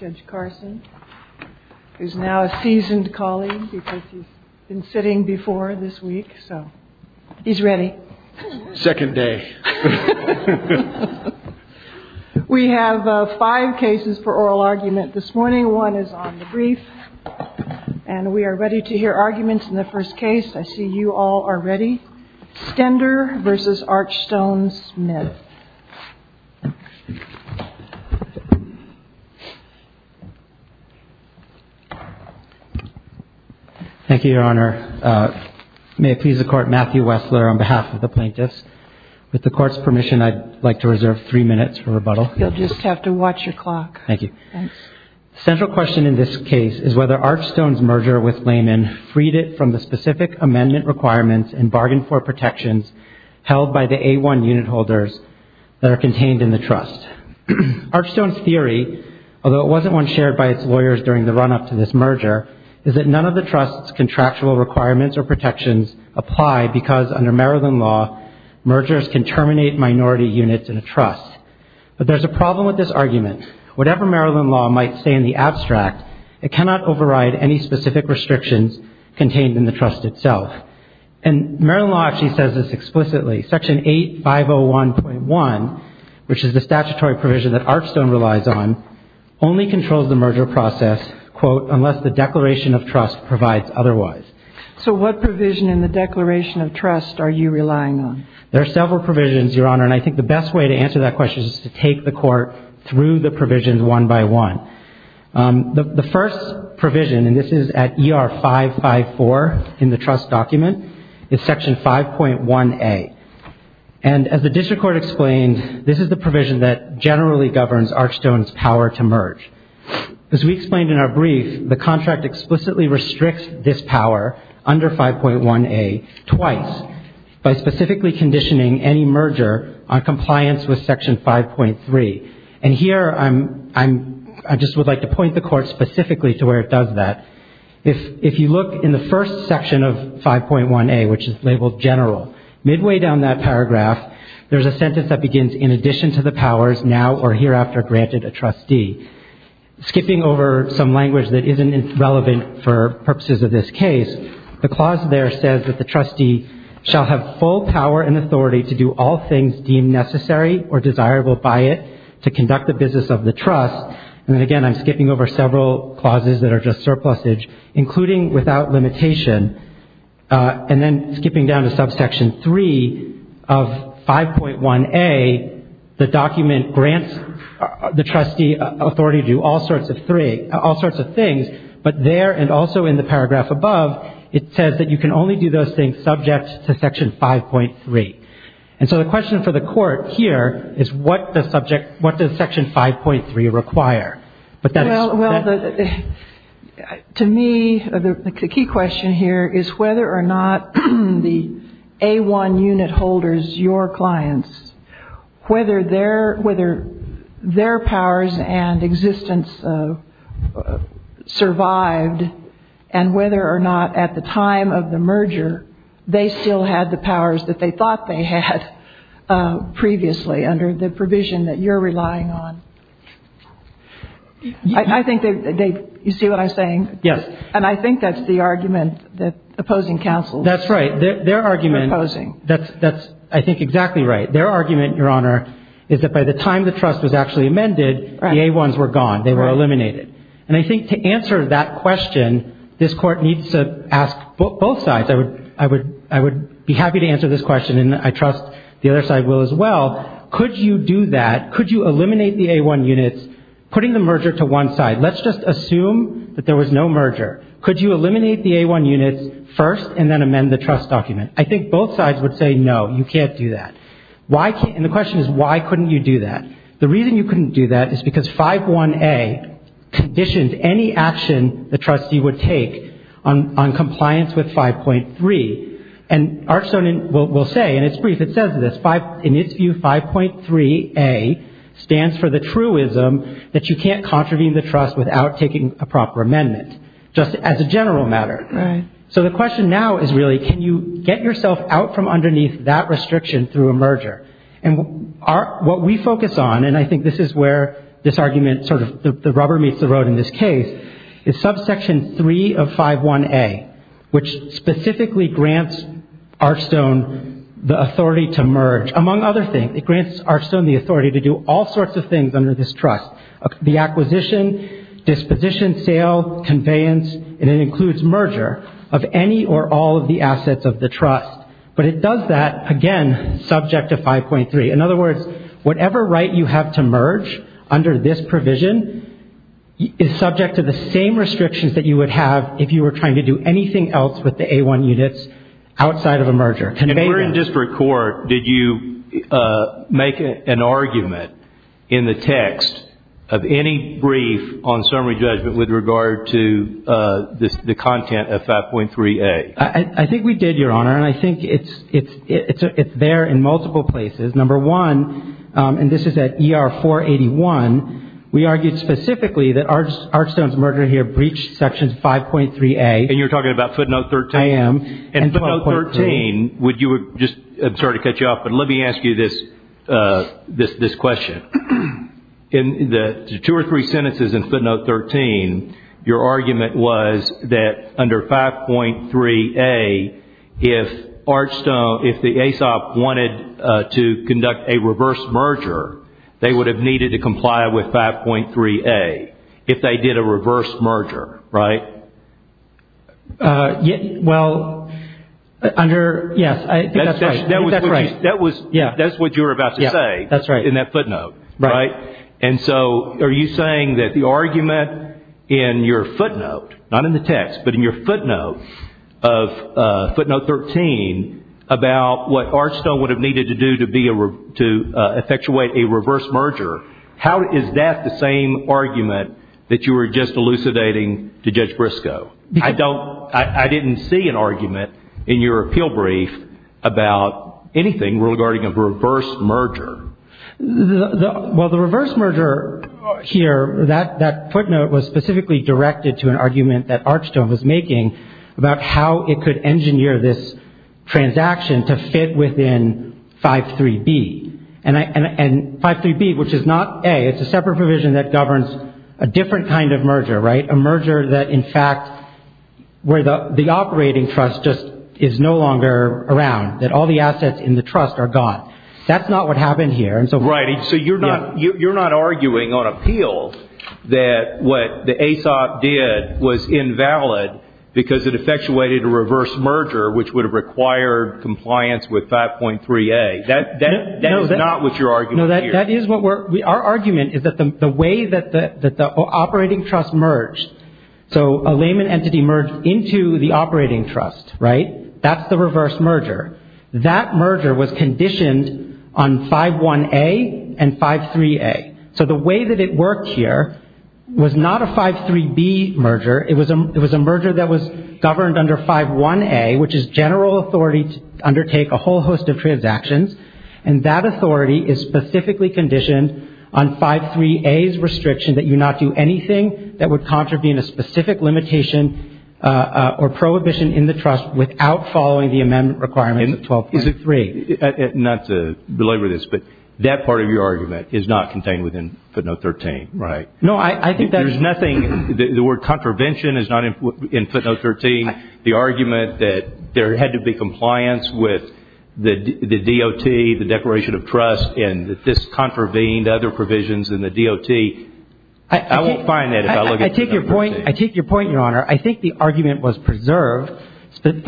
Judge Carson is now a seasoned colleague because he's been sitting before this week. So he's ready. Second day. We have five cases for oral argument this morning. One is on the brief and we are ready to hear arguments in the first case. I see you all are ready. Stender v. Archstone Smith. Thank you, Your Honor. May it please the court, Matthew Wessler on behalf of the plaintiffs. With the court's permission, I'd like to reserve three minutes for rebuttal. You'll just have to watch your clock. Thank you. The central question in this case is whether Archstone's merger with Lehman freed it from the specific amendment requirements and bargained for protections held by the A1 unit holders that are contained in the trust. Archstone's theory, although it wasn't one shared by its lawyers during the run-up to this merger, is that none of the trust's contractual requirements or protections apply because under Maryland law, mergers can terminate minority units in a trust. But there's a problem with this argument. Whatever Maryland law might say in the abstract, it cannot override any specific restrictions contained in the trust itself. And Maryland law actually says this explicitly. Section 8501.1, which is the statutory provision that Archstone relies on, only controls the merger process, quote, unless the declaration of trust provides otherwise. So what provision in the declaration of trust are you relying on? There are several provisions, Your Honor, and I think the best way to answer that question is to take the Court through the provisions one by one. The first provision, and this is at ER 554 in the trust document, is Section 5.1a. And as the district court explained, this is the provision that generally governs Archstone's power to merge. As we explained in our brief, the contract explicitly restricts this power under 5.1a twice by specifically conditioning any merger on compliance with Section 5.3. And here I just would like to point the Court specifically to where it does that. If you look in the first section of 5.1a, which is labeled general, midway down that paragraph there's a sentence that begins, in addition to the powers now or hereafter granted a trustee. Skipping over some language that isn't relevant for purposes of this case, the clause there says that the trustee shall have full power and authority to do all things deemed necessary or desirable by it to conduct the business of the trust. And again, I'm skipping over several clauses that are just surplusage, including without limitation. And then skipping down to subsection 3 of 5.1a, the document grants the trustee authority to do all sorts of things. But there and also in the paragraph above, it says that you can only do those things subject to Section 5.3. And so the question for the Court here is what does Section 5.3 require? Well, to me the key question here is whether or not the A1 unit holders, your clients, whether their powers and existence survived and whether or not at the time of the merger they still had the powers that they thought they had previously under the provision that you're relying on. I think they've, you see what I'm saying? Yes. And I think that's the argument that opposing counsels are proposing. That's right. Their argument, that's I think exactly right. Their argument, Your Honor, is that by the time the trust was actually amended, the A1s were gone. They were eliminated. And I think to answer that question, this Court needs to ask both sides. I would be happy to answer this question and I trust the other side will as well. Could you do that? Could you eliminate the A1 units putting the merger to one side? Let's just assume that there was no merger. Could you eliminate the A1 units first and then amend the trust document? I think both sides would say no, you can't do that. And the question is why couldn't you do that? The reason you couldn't do that is because 5.1a conditions any action the trustee would take on compliance with 5.3. And Arch Stoneman will say, and it's brief, it says in its view 5.3a stands for the truism that you can't contravene the trust without taking a proper amendment, just as a general matter. Right. So the question now is really can you get yourself out from underneath that restriction through a merger? And what we focus on, and I think this is where this argument sort of the rubber meets the road in this case, is subsection 3 of 5.1a, which specifically grants Arch Stoneman the authority to merge, among other things. It grants Arch Stoneman the authority to do all sorts of things under this trust. The acquisition, disposition, sale, conveyance, and it includes merger of any or all of the assets of the trust. But it does that, again, subject to 5.3. In other words, whatever right you have to merge under this provision is subject to the same restrictions that you would have if you were trying to do anything else with the A1 units outside of a merger. Conveyance. And where in district court did you make an argument in the text of any brief on summary judgment with regard to the content of 5.3a? I think we did, Your Honor, and I think it's there in multiple places. Number one, and this is at ER 481, we argued specifically that Arch Stoneman's merger here breached sections 5.3a. And you're talking about footnote 13? I am. And footnote 13, would you just – I'm sorry to cut you off, but let me ask you this question. In the two or three sentences in footnote 13, your argument was that under 5.3a, if Arch Stoneman, if the ASOP wanted to conduct a reverse merger, they would have needed to comply with 5.3a if they did a reverse merger, right? Well, under – yes, I think that's right. That's what you were about to say in that footnote. Right. And so are you saying that the argument in your footnote, not in the text, but in your footnote of footnote 13, about what Arch Stoneman would have needed to do to effectuate a reverse merger, how is that the same argument that you were just elucidating to Judge Briscoe? I don't – I didn't see an argument in your appeal brief about anything regarding a reverse merger. Well, the reverse merger here, that footnote was specifically directed to an argument that Arch Stoneman was making about how it could engineer this transaction to fit within 5.3b. And 5.3b, which is not a – it's a separate provision that governs a different kind of merger, right? A merger that, in fact, where the operating trust just is no longer around, that all the assets in the trust are gone. That's not what happened here. Right. So you're not arguing on appeal that what the ASOP did was invalid because it effectuated a reverse merger, which would have required compliance with 5.3a. That is not what you're arguing here. No, that is what we're – our argument is that the way that the operating trust merged, so a layman entity merged into the operating trust, right? That's the reverse merger. That merger was conditioned on 5.1a and 5.3a. So the way that it worked here was not a 5.3b merger. It was a merger that was governed under 5.1a, which is general authority to undertake a whole host of transactions. And that authority is specifically conditioned on 5.3a's restriction that you not do anything that would contravene a specific limitation or prohibition in the trust without following the amendment requirements of 12.3. Not to belabor this, but that part of your argument is not contained within footnote 13, right? No, I think that – There's nothing – the word contravention is not in footnote 13. The argument that there had to be compliance with the DOT, the Declaration of Trust, and that this contravened other provisions in the DOT. I won't find that if I look at footnote 13. I take your point, Your Honor. I think the argument was preserved. Section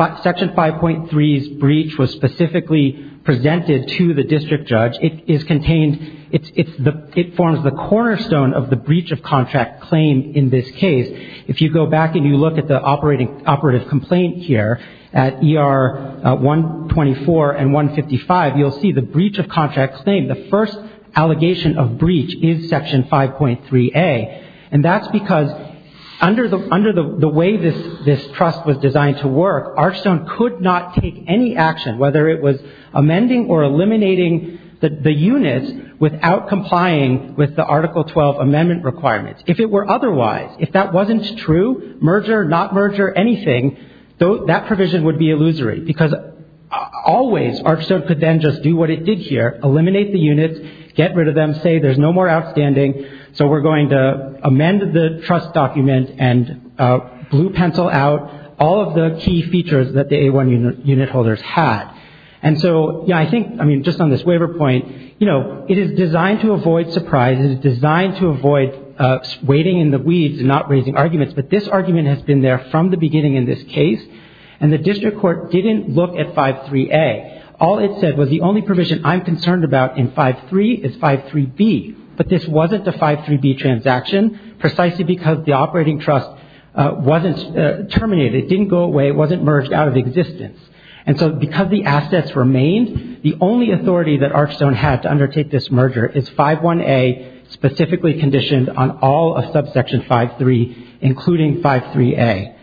5.3's breach was specifically presented to the district judge. It is contained – it forms the cornerstone of the breach of contract claim in this case. If you go back and you look at the operative complaint here at ER 124 and 155, you'll see the breach of contract claim. The first allegation of breach is Section 5.3a, and that's because under the way this trust was designed to work, Archstone could not take any action, whether it was amending or eliminating the units, without complying with the Article 12 amendment requirements. If it were otherwise, if that wasn't true, merger, not merger, anything, that provision would be illusory because always Archstone could then just do what it did here, eliminate the units, get rid of them, say there's no more outstanding, so we're going to amend the trust document and blue pencil out all of the key features that the A1 unit holders had. And so, yeah, I think, I mean, just on this waiver point, you know, it is designed to avoid surprise. It is designed to avoid wading in the weeds and not raising arguments, but this argument has been there from the beginning in this case, and the district court didn't look at 5.3a. All it said was the only provision I'm concerned about in 5.3 is 5.3b, but this wasn't a 5.3b transaction precisely because the operating trust wasn't terminated. It didn't go away. It wasn't merged out of existence, and so because the assets remained, the only authority that Archstone had to undertake this merger is 5.1a, specifically conditioned on all of subsection 5.3, including 5.3a.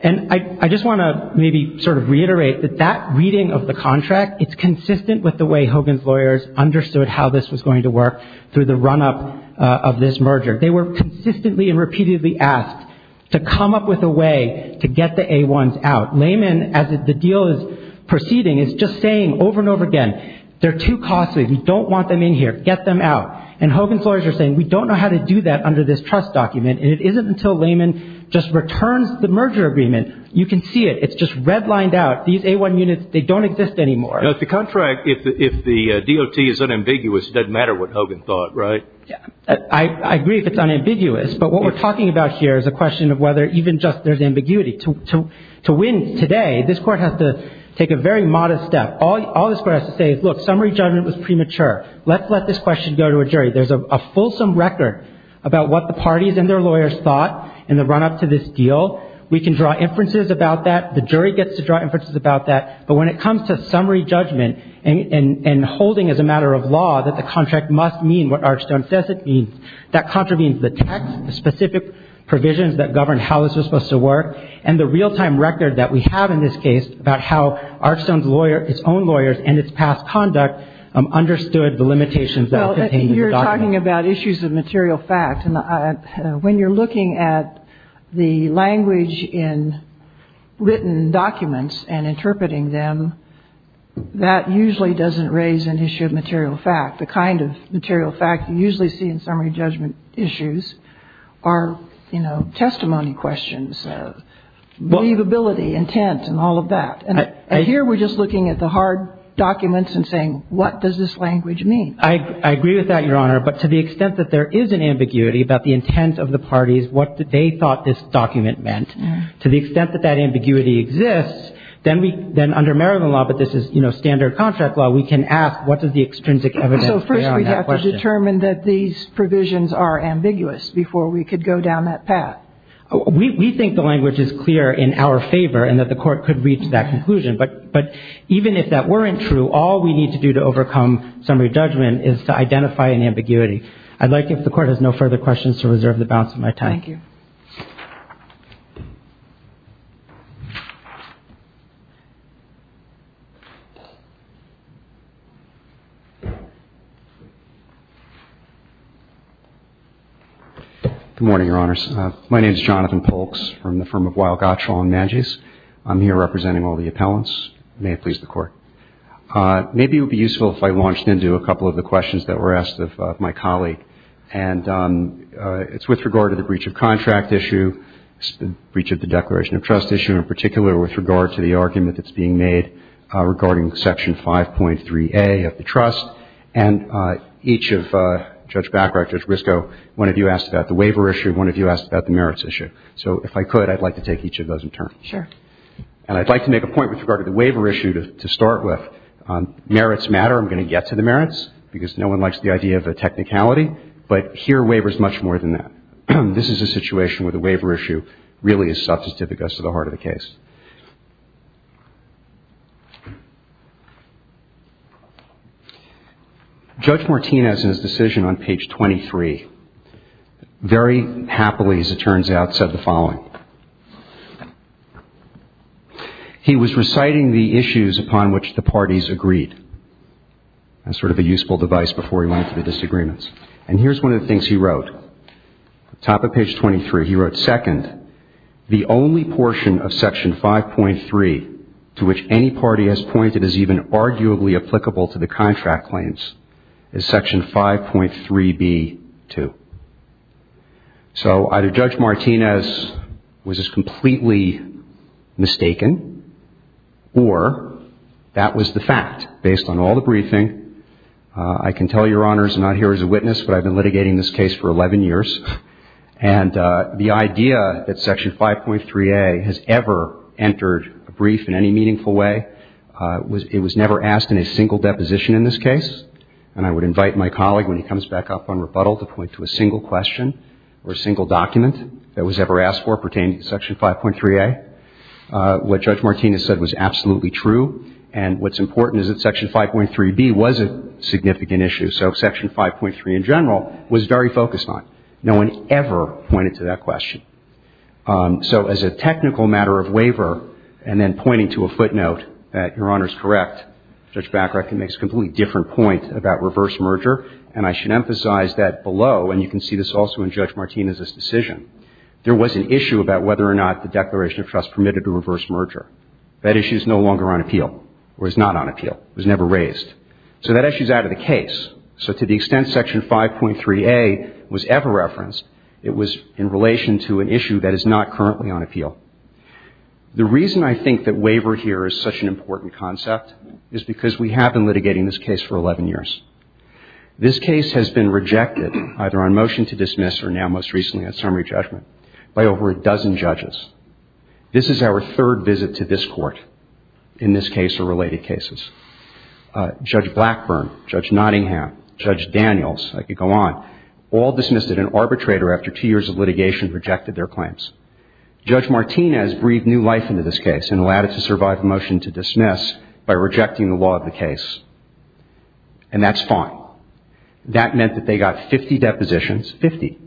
And I just want to maybe sort of reiterate that that reading of the contract, it's consistent with the way Hogan's lawyers understood how this was going to work through the run-up of this merger. They were consistently and repeatedly asked to come up with a way to get the A1s out. Lehman, as the deal is proceeding, is just saying over and over again, they're too costly. We don't want them in here. Get them out. And Hogan's lawyers are saying, we don't know how to do that under this trust document, and it isn't until Lehman just returns the merger agreement. You can see it. It's just redlined out. These A1 units, they don't exist anymore. Now, the contract, if the DOT is unambiguous, it doesn't matter what Hogan thought, right? I agree if it's unambiguous, but what we're talking about here is a question of whether even just there's ambiguity. To win today, this Court has to take a very modest step. All this Court has to say is, look, summary judgment was premature. Let's let this question go to a jury. There's a fulsome record about what the parties and their lawyers thought in the run-up to this deal. We can draw inferences about that. The jury gets to draw inferences about that. But when it comes to summary judgment and holding as a matter of law that the contract must mean what Archstone says it means, that contravenes the text, the specific provisions that govern how this was supposed to work, and the real-time record that we have in this case about how Archstone's lawyer, its own lawyers, and its past conduct understood the limitations that contained in the document. Well, you're talking about issues of material fact. And when you're looking at the language in written documents and interpreting them, that usually doesn't raise an issue of material fact. The kind of material fact you usually see in summary judgment issues are, you know, testimony questions, believability, intent, and all of that. And here we're just looking at the hard documents and saying, what does this language mean? I agree with that, Your Honor. But to the extent that there is an ambiguity about the intent of the parties, what they thought this document meant, to the extent that that ambiguity exists, then under Maryland law, but this is, you know, standard contract law, we can ask what does the extrinsic evidence say on that question. So first we have to determine that these provisions are ambiguous before we could go down that path. We think the language is clear in our favor and that the Court could reach that conclusion. But even if that weren't true, all we need to do to overcome summary judgment is to identify an ambiguity. I'd like, if the Court has no further questions, to reserve the balance of my time. Thank you. Good morning, Your Honors. My name is Jonathan Polks from the firm of Weill, Gottschall & Maggies. I'm here representing all the appellants. May it please the Court. Maybe it would be useful if I launched into a couple of the questions that were asked of my colleague. And it's with regard to the breach of contract issue, breach of the Declaration of Trust issue in particular, with regard to the argument that's being made regarding Section 5.3a of the trust. And each of Judge Bacharach, Judge Brisco, one of you asked about the waiver issue, one of you asked about the merits issue. So if I could, I'd like to take each of those in turn. Sure. And I'd like to make a point with regard to the waiver issue to start with. Merits matter. I'm going to get to the merits because no one likes the idea of a technicality. But here, waiver is much more than that. This is a situation where the waiver issue really is substantificus to the heart of the case. Judge Martinez, in his decision on page 23, very happily, as it turns out, said the following. He was reciting the issues upon which the parties agreed. That's sort of a useful device before he went into the disagreements. And here's one of the things he wrote. At the top of page 23, he wrote, Second, the only portion of Section 5.3 to which any party has pointed is even arguably applicable to the contract claims is Section 5.3b-2. So either Judge Martinez was just completely mistaken, or that was the fact. Based on all the briefing, I can tell Your Honors I'm not here as a witness, but I've been litigating this case for 11 years. And the idea that Section 5.3a has ever entered a brief in any meaningful way, it was never asked in a single deposition in this case. And I would invite my colleague, when he comes back up on rebuttal, to point to a single question or a single document that was ever asked for pertaining to Section 5.3a. What Judge Martinez said was absolutely true. And what's important is that Section 5.3b was a significant issue. So Section 5.3 in general was very focused on. No one ever pointed to that question. So as a technical matter of waiver, and then pointing to a footnote that, Your Honors, correct, Judge Bacharach makes a completely different point about reverse merger. And I should emphasize that below, and you can see this also in Judge Martinez's decision, there was an issue about whether or not the Declaration of Trust permitted a reverse merger. That issue is no longer on appeal, or is not on appeal. It was never raised. So that issue is out of the case. So to the extent Section 5.3a was ever referenced, it was in relation to an issue that is not currently on appeal. The reason I think that waiver here is such an important concept is because we have been litigating this case for 11 years. This case has been rejected, either on motion to dismiss or now most recently at summary judgment, by over a dozen judges. This is our third visit to this Court in this case or related cases. Judge Blackburn, Judge Nottingham, Judge Daniels, I could go on, all dismissed it. An arbitrator, after two years of litigation, rejected their claims. Judge Martinez breathed new life into this case and allowed it to survive a motion to dismiss by rejecting the law of the case. And that's fine. That meant that they got 50 depositions, 50.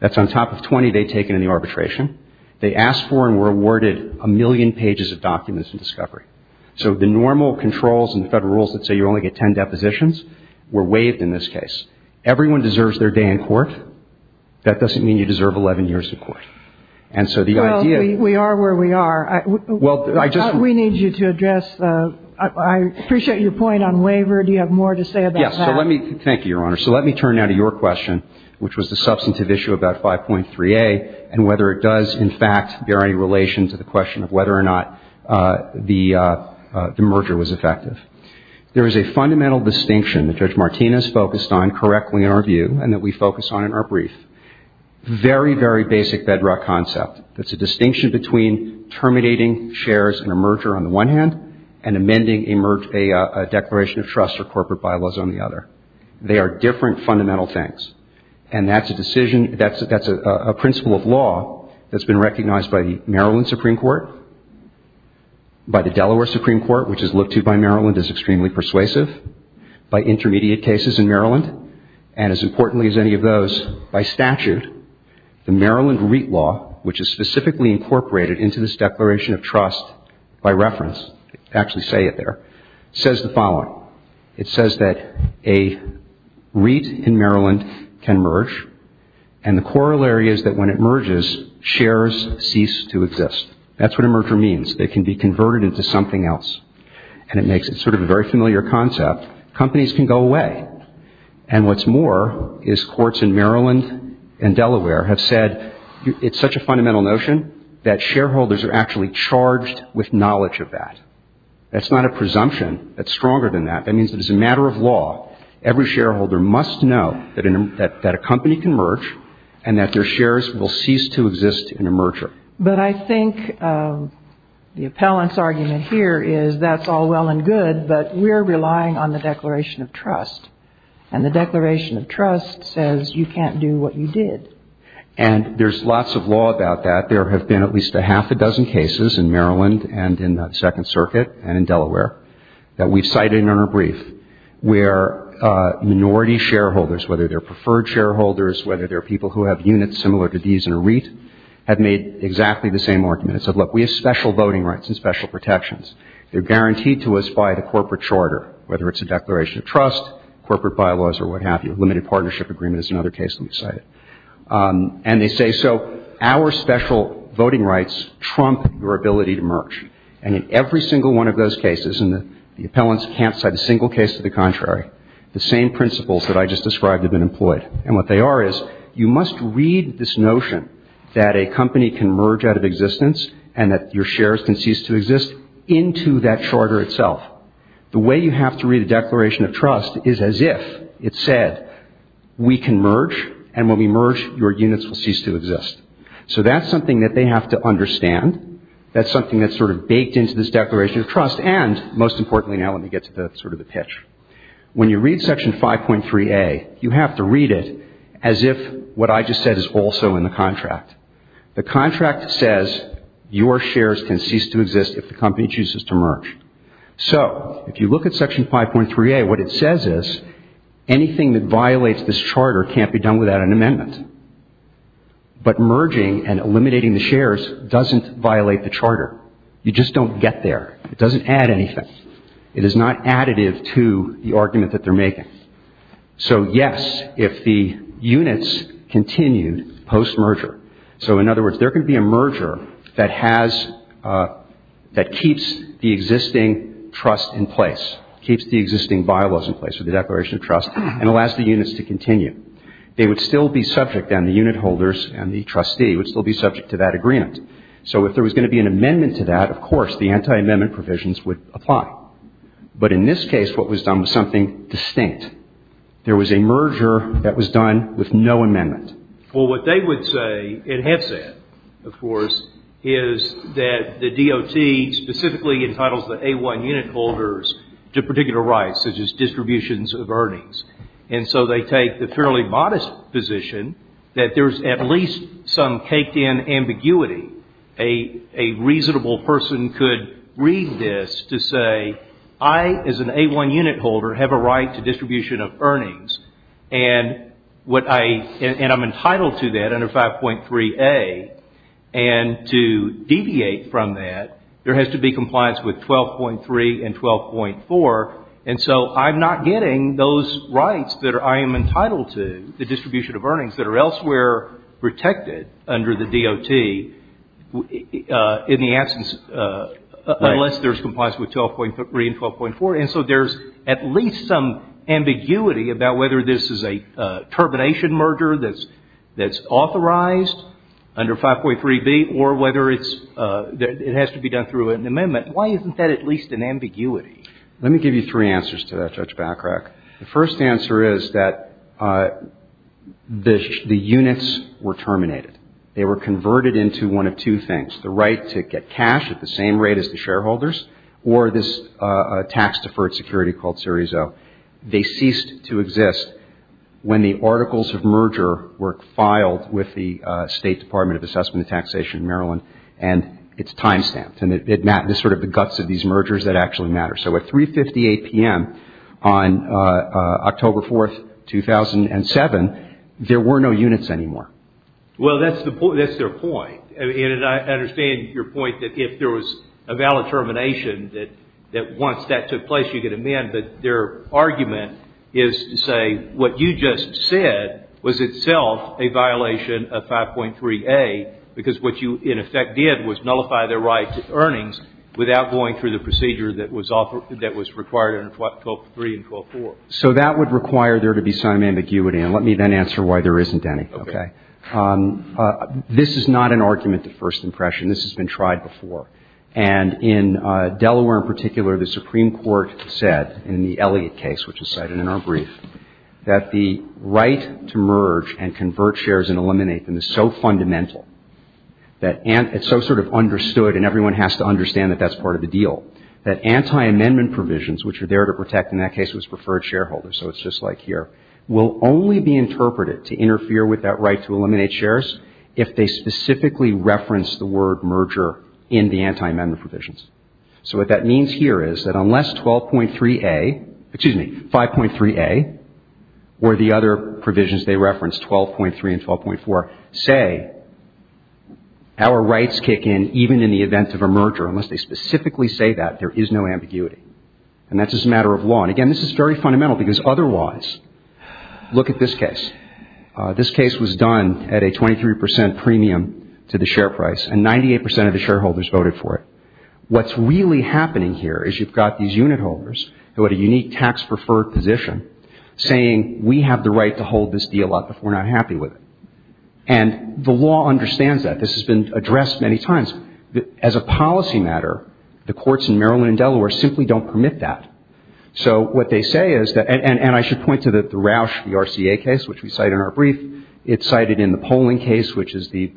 That's on top of 20 they'd taken in the arbitration. They asked for and were awarded a million pages of documents in discovery. So the normal controls and the Federal rules that say you only get 10 depositions were waived in this case. Everyone deserves their day in court. That doesn't mean you deserve 11 years in court. And so the idea of – Well, we are where we are. Well, I just – We need you to address – I appreciate your point on waiver. Do you have more to say about that? Yes. So let me – thank you, Your Honor. So let me turn now to your question, which was the substantive issue about 5.3a and whether it does, in fact, bear any relation to the question of whether or not the merger was effective. There is a fundamental distinction that Judge Martinez focused on correctly in our review and that we focus on in our brief, very, very basic bedrock concept. It's a distinction between terminating shares in a merger on the one hand and amending a declaration of trust or corporate bylaws on the other. They are different fundamental things. And that's a decision – that's a principle of law that's been recognized by the Maryland Supreme Court, by the Delaware Supreme Court, which is looked to by Maryland as extremely persuasive, by intermediate cases in Maryland, and as importantly as any of those, by statute, the Maryland REIT law, which is specifically incorporated into this declaration of trust by reference – actually say it there – says the following. It says that a REIT in Maryland can merge. And the corollary is that when it merges, shares cease to exist. That's what a merger means. It can be converted into something else. And it makes it sort of a very familiar concept. Companies can go away. And what's more is courts in Maryland and Delaware have said it's such a fundamental notion that shareholders are actually charged with knowledge of that. That's not a presumption. That's stronger than that. That means that as a matter of law, every shareholder must know that a company can merge and that their shares will cease to exist in a merger. But I think the appellant's argument here is that's all well and good, but we're relying on the declaration of trust. And the declaration of trust says you can't do what you did. And there's lots of law about that. There have been at least a half a dozen cases in Maryland and in the Second Circuit and in Delaware that we've cited in our brief where minority shareholders, whether they're preferred shareholders, whether they're people who have units similar to these in a REIT, have made exactly the same argument. It said, look, we have special voting rights and special protections. They're guaranteed to us by the corporate charter, whether it's a declaration of trust, corporate bylaws or what have you. Limited partnership agreement is another case that we've cited. And they say, so our special voting rights trump your ability to merge. And in every single one of those cases, and the appellants can't cite a single case to the contrary, the same principles that I just described have been employed. And what they are is you must read this notion that a company can merge out of existence and that your shares can cease to exist into that charter itself. The way you have to read a declaration of trust is as if it said we can merge and when we merge, your units will cease to exist. So that's something that they have to understand. That's something that's sort of baked into this declaration of trust. And most importantly now, let me get to sort of the pitch. When you read Section 5.3a, you have to read it as if what I just said is also in the contract. The contract says your shares can cease to exist if the company chooses to merge. So if you look at Section 5.3a, what it says is anything that violates this charter can't be done without an amendment. But merging and eliminating the shares doesn't violate the charter. You just don't get there. It doesn't add anything. It is not additive to the argument that they're making. So yes, if the units continued post-merger. So in other words, there could be a merger that keeps the existing trust in place, keeps the existing bylaws in place with the declaration of trust and allows the units to continue. They would still be subject and the unit holders and the trustee would still be subject to that agreement. So if there was going to be an amendment to that, of course, the anti-amendment provisions would apply. But in this case, what was done was something distinct. There was a merger that was done with no amendment. Well, what they would say, and have said, of course, is that the DOT specifically entitles the A1 unit holders to particular rights, such as distributions of earnings. And so they take the fairly modest position that there's at least some caked-in ambiguity. A reasonable person could read this to say, I, as an A1 unit holder, have a right to distribution of earnings. And what I, and I'm entitled to that under 5.3A. And to deviate from that, there has to be compliance with 12.3 and 12.4. And so I'm not getting those rights that I am entitled to, the distribution of earnings, that are elsewhere protected under the DOT in the absence, unless there's compliance with 12.3 and 12.4. And so there's at least some ambiguity about whether this is a termination merger that's authorized under 5.3B, or whether it's, it has to be done through an amendment. Why isn't that at least an ambiguity? Let me give you three answers to that, Judge Backrack. The first answer is that the units were terminated. They were converted into one of two things. The right to get cash at the same rate as the shareholders, or this tax-deferred security called Series O. They ceased to exist when the articles of merger were filed with the State Department of Assessment and Taxation in Maryland, and it's time-stamped. And it's sort of the guts of these mergers that actually matter. So at 3.58 p.m. on October 4, 2007, there were no units anymore. Well, that's their point. And I understand your point that if there was a valid termination, that once that took place, you could amend. But their argument is to say what you just said was itself a violation of 5.3A, because what you in effect did was nullify their right to earnings without going through the procedure that was required under 12.3 and 12.4. So that would require there to be some ambiguity. And let me then answer why there isn't any. Okay. This is not an argument at first impression. This has been tried before. And in Delaware in particular, the Supreme Court said in the Elliott case, which is cited in our brief, that the right to merge and convert shares and eliminate them is so fundamental, that it's so sort of understood and everyone has to understand that that's part of the deal, that anti-amendment provisions, which are there to protect, in that case it was preferred shareholders, so it's just like here, will only be interpreted to interfere with that right to eliminate shares if they specifically reference the word merger in the anti-amendment provisions. So what that means here is that unless 12.3A, excuse me, 5.3A, or the other provisions they reference, 12.3 and 12.4, say our rights kick in even in the event of a merger, unless they specifically say that, there is no ambiguity. And that's just a matter of law. And, again, this is very fundamental because otherwise, look at this case. This case was done at a 23 percent premium to the share price, and 98 percent of the shareholders voted for it. What's really happening here is you've got these unit holders who had a unique tax-preferred position saying, we have the right to hold this deal up if we're not happy with it. And the law understands that. This has been addressed many times. As a policy matter, the courts in Maryland and Delaware simply don't permit that. So what they say is that – and I should point to the Rausch v. RCA case, which we cite in our brief. It's cited in the polling case, which is the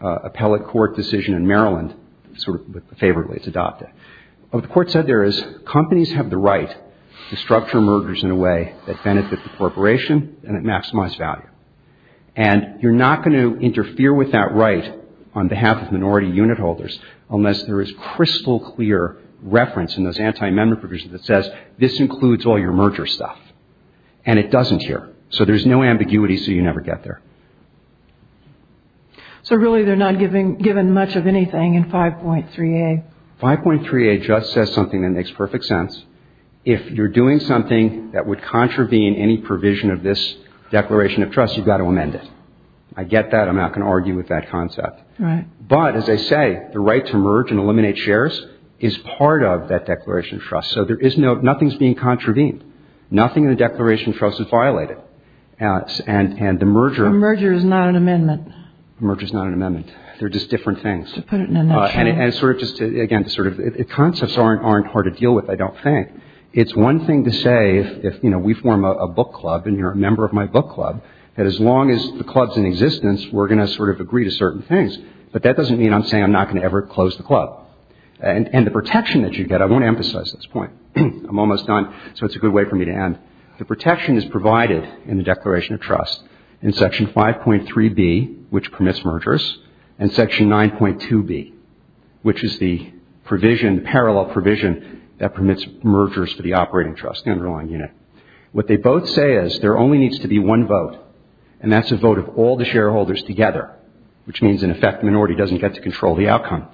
appellate court decision in Maryland, sort of favorably it's adopted. What the court said there is companies have the right to structure mergers in a way that benefit the corporation and it maximizes value. And you're not going to interfere with that right on behalf of minority unit holders unless there is crystal clear reference in those anti-amendment provisions that says, this includes all your merger stuff. And it doesn't here. So there's no ambiguity, so you never get there. So really they're not given much of anything in 5.3a. 5.3a just says something that makes perfect sense. If you're doing something that would contravene any provision of this Declaration of Trust, you've got to amend it. I get that. I'm not going to argue with that concept. Right. But, as I say, the right to merge and eliminate shares is part of that Declaration of Trust. So there is no ‑‑ nothing is being contravened. Nothing in the Declaration of Trust is violated. And the merger ‑‑ The merger is not an amendment. The merger is not an amendment. They're just different things. To put it in a nutshell. And sort of just to, again, to sort of ‑‑ concepts aren't hard to deal with, I don't think. It's one thing to say if, you know, we form a book club and you're a member of my book club, that as long as the club is in existence, we're going to sort of agree to certain things. But that doesn't mean I'm saying I'm not going to ever close the club. And the protection that you get, I won't emphasize this point. I'm almost done, so it's a good way for me to end. The protection is provided in the Declaration of Trust in Section 5.3b, which permits mergers, and Section 9.2b, which is the provision, parallel provision, that permits mergers for the operating trust, the underlying unit. What they both say is there only needs to be one vote, and that's a vote of all the shareholders together, which means, in effect, the minority doesn't get to control the outcome.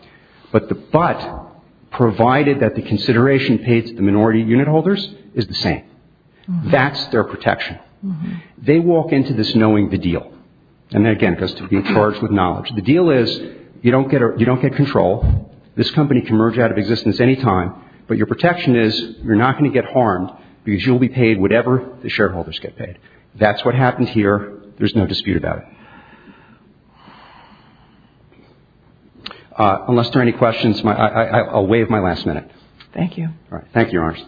But the but, provided that the consideration paid to the minority unit holders is the same. That's their protection. They walk into this knowing the deal. And, again, it goes to being charged with knowledge. The deal is you don't get control. This company can merge out of existence any time, but your protection is you're not going to get harmed because you'll be paid whatever the shareholders get paid. That's what happened here. There's no dispute about it. Unless there are any questions, I'll waive my last minute. Thank you. Thank you, Your Honors.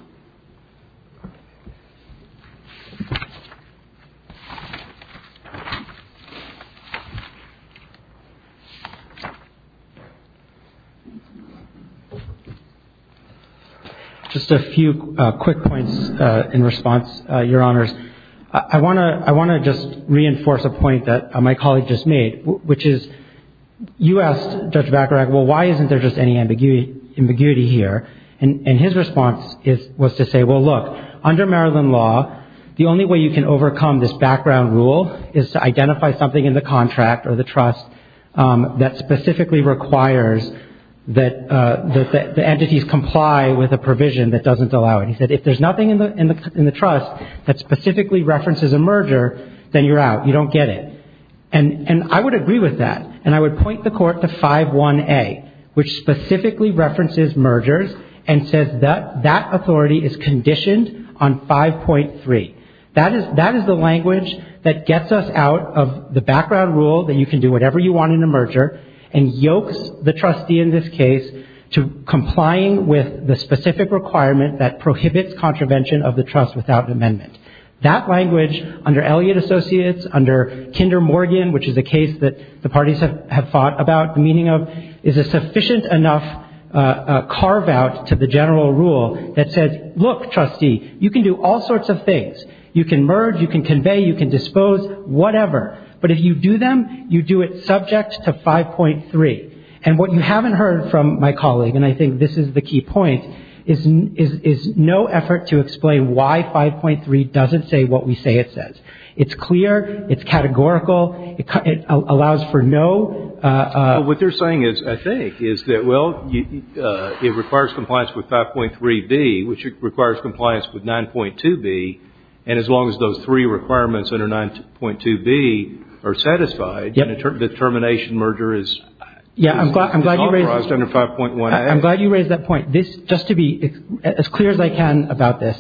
Just a few quick points in response, Your Honors. I want to just reinforce a point that my colleague just made, which is you asked Judge Bacharach, well, why isn't there just any ambiguity here? And his response was to say, well, look, under Maryland law, the only way you can overcome this background rule is to identify something in the contract or the trust that specifically requires that the entities comply with a provision that doesn't allow it. He said if there's nothing in the trust that specifically references a merger, then you're out. You don't get it. And I would agree with that. And I would point the Court to 5.1a, which specifically references mergers and says that that authority is conditioned on 5.3. That is the language that gets us out of the background rule that you can do whatever you want in a merger and yokes the trustee in this case to complying with the specific requirement that prohibits contravention of the trust without amendment. That language under Elliott Associates, under Kinder Morgan, which is a case that the parties have fought about the meaning of, is a sufficient enough carve-out to the general rule that says, look, trustee, you can do all sorts of things. You can merge, you can convey, you can dispose, whatever. But if you do them, you do it subject to 5.3. And what you haven't heard from my colleague, and I think this is the key point, is no effort to explain why 5.3 doesn't say what we say it says. It's clear. It's categorical. It allows for no ‑‑ What they're saying, I think, is that, well, it requires compliance with 5.3b, which requires compliance with 9.2b. And as long as those three requirements under 9.2b are satisfied, the termination merger is compromised under 5.1a. I'm glad you raised that point. Just to be as clear as I can about this,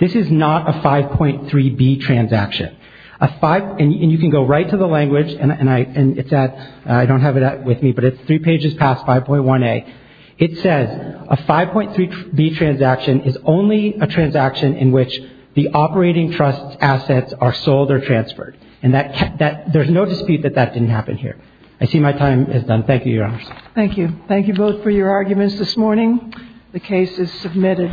this is not a 5.3b transaction. And you can go right to the language, and I don't have it with me, but it's three pages past 5.1a. It says a 5.3b transaction is only a transaction in which the operating trust's assets are sold or transferred. And that ‑‑ there's no dispute that that didn't happen here. I see my time is done. Thank you, Your Honors. Thank you. Thank you both for your arguments this morning. The case is submitted.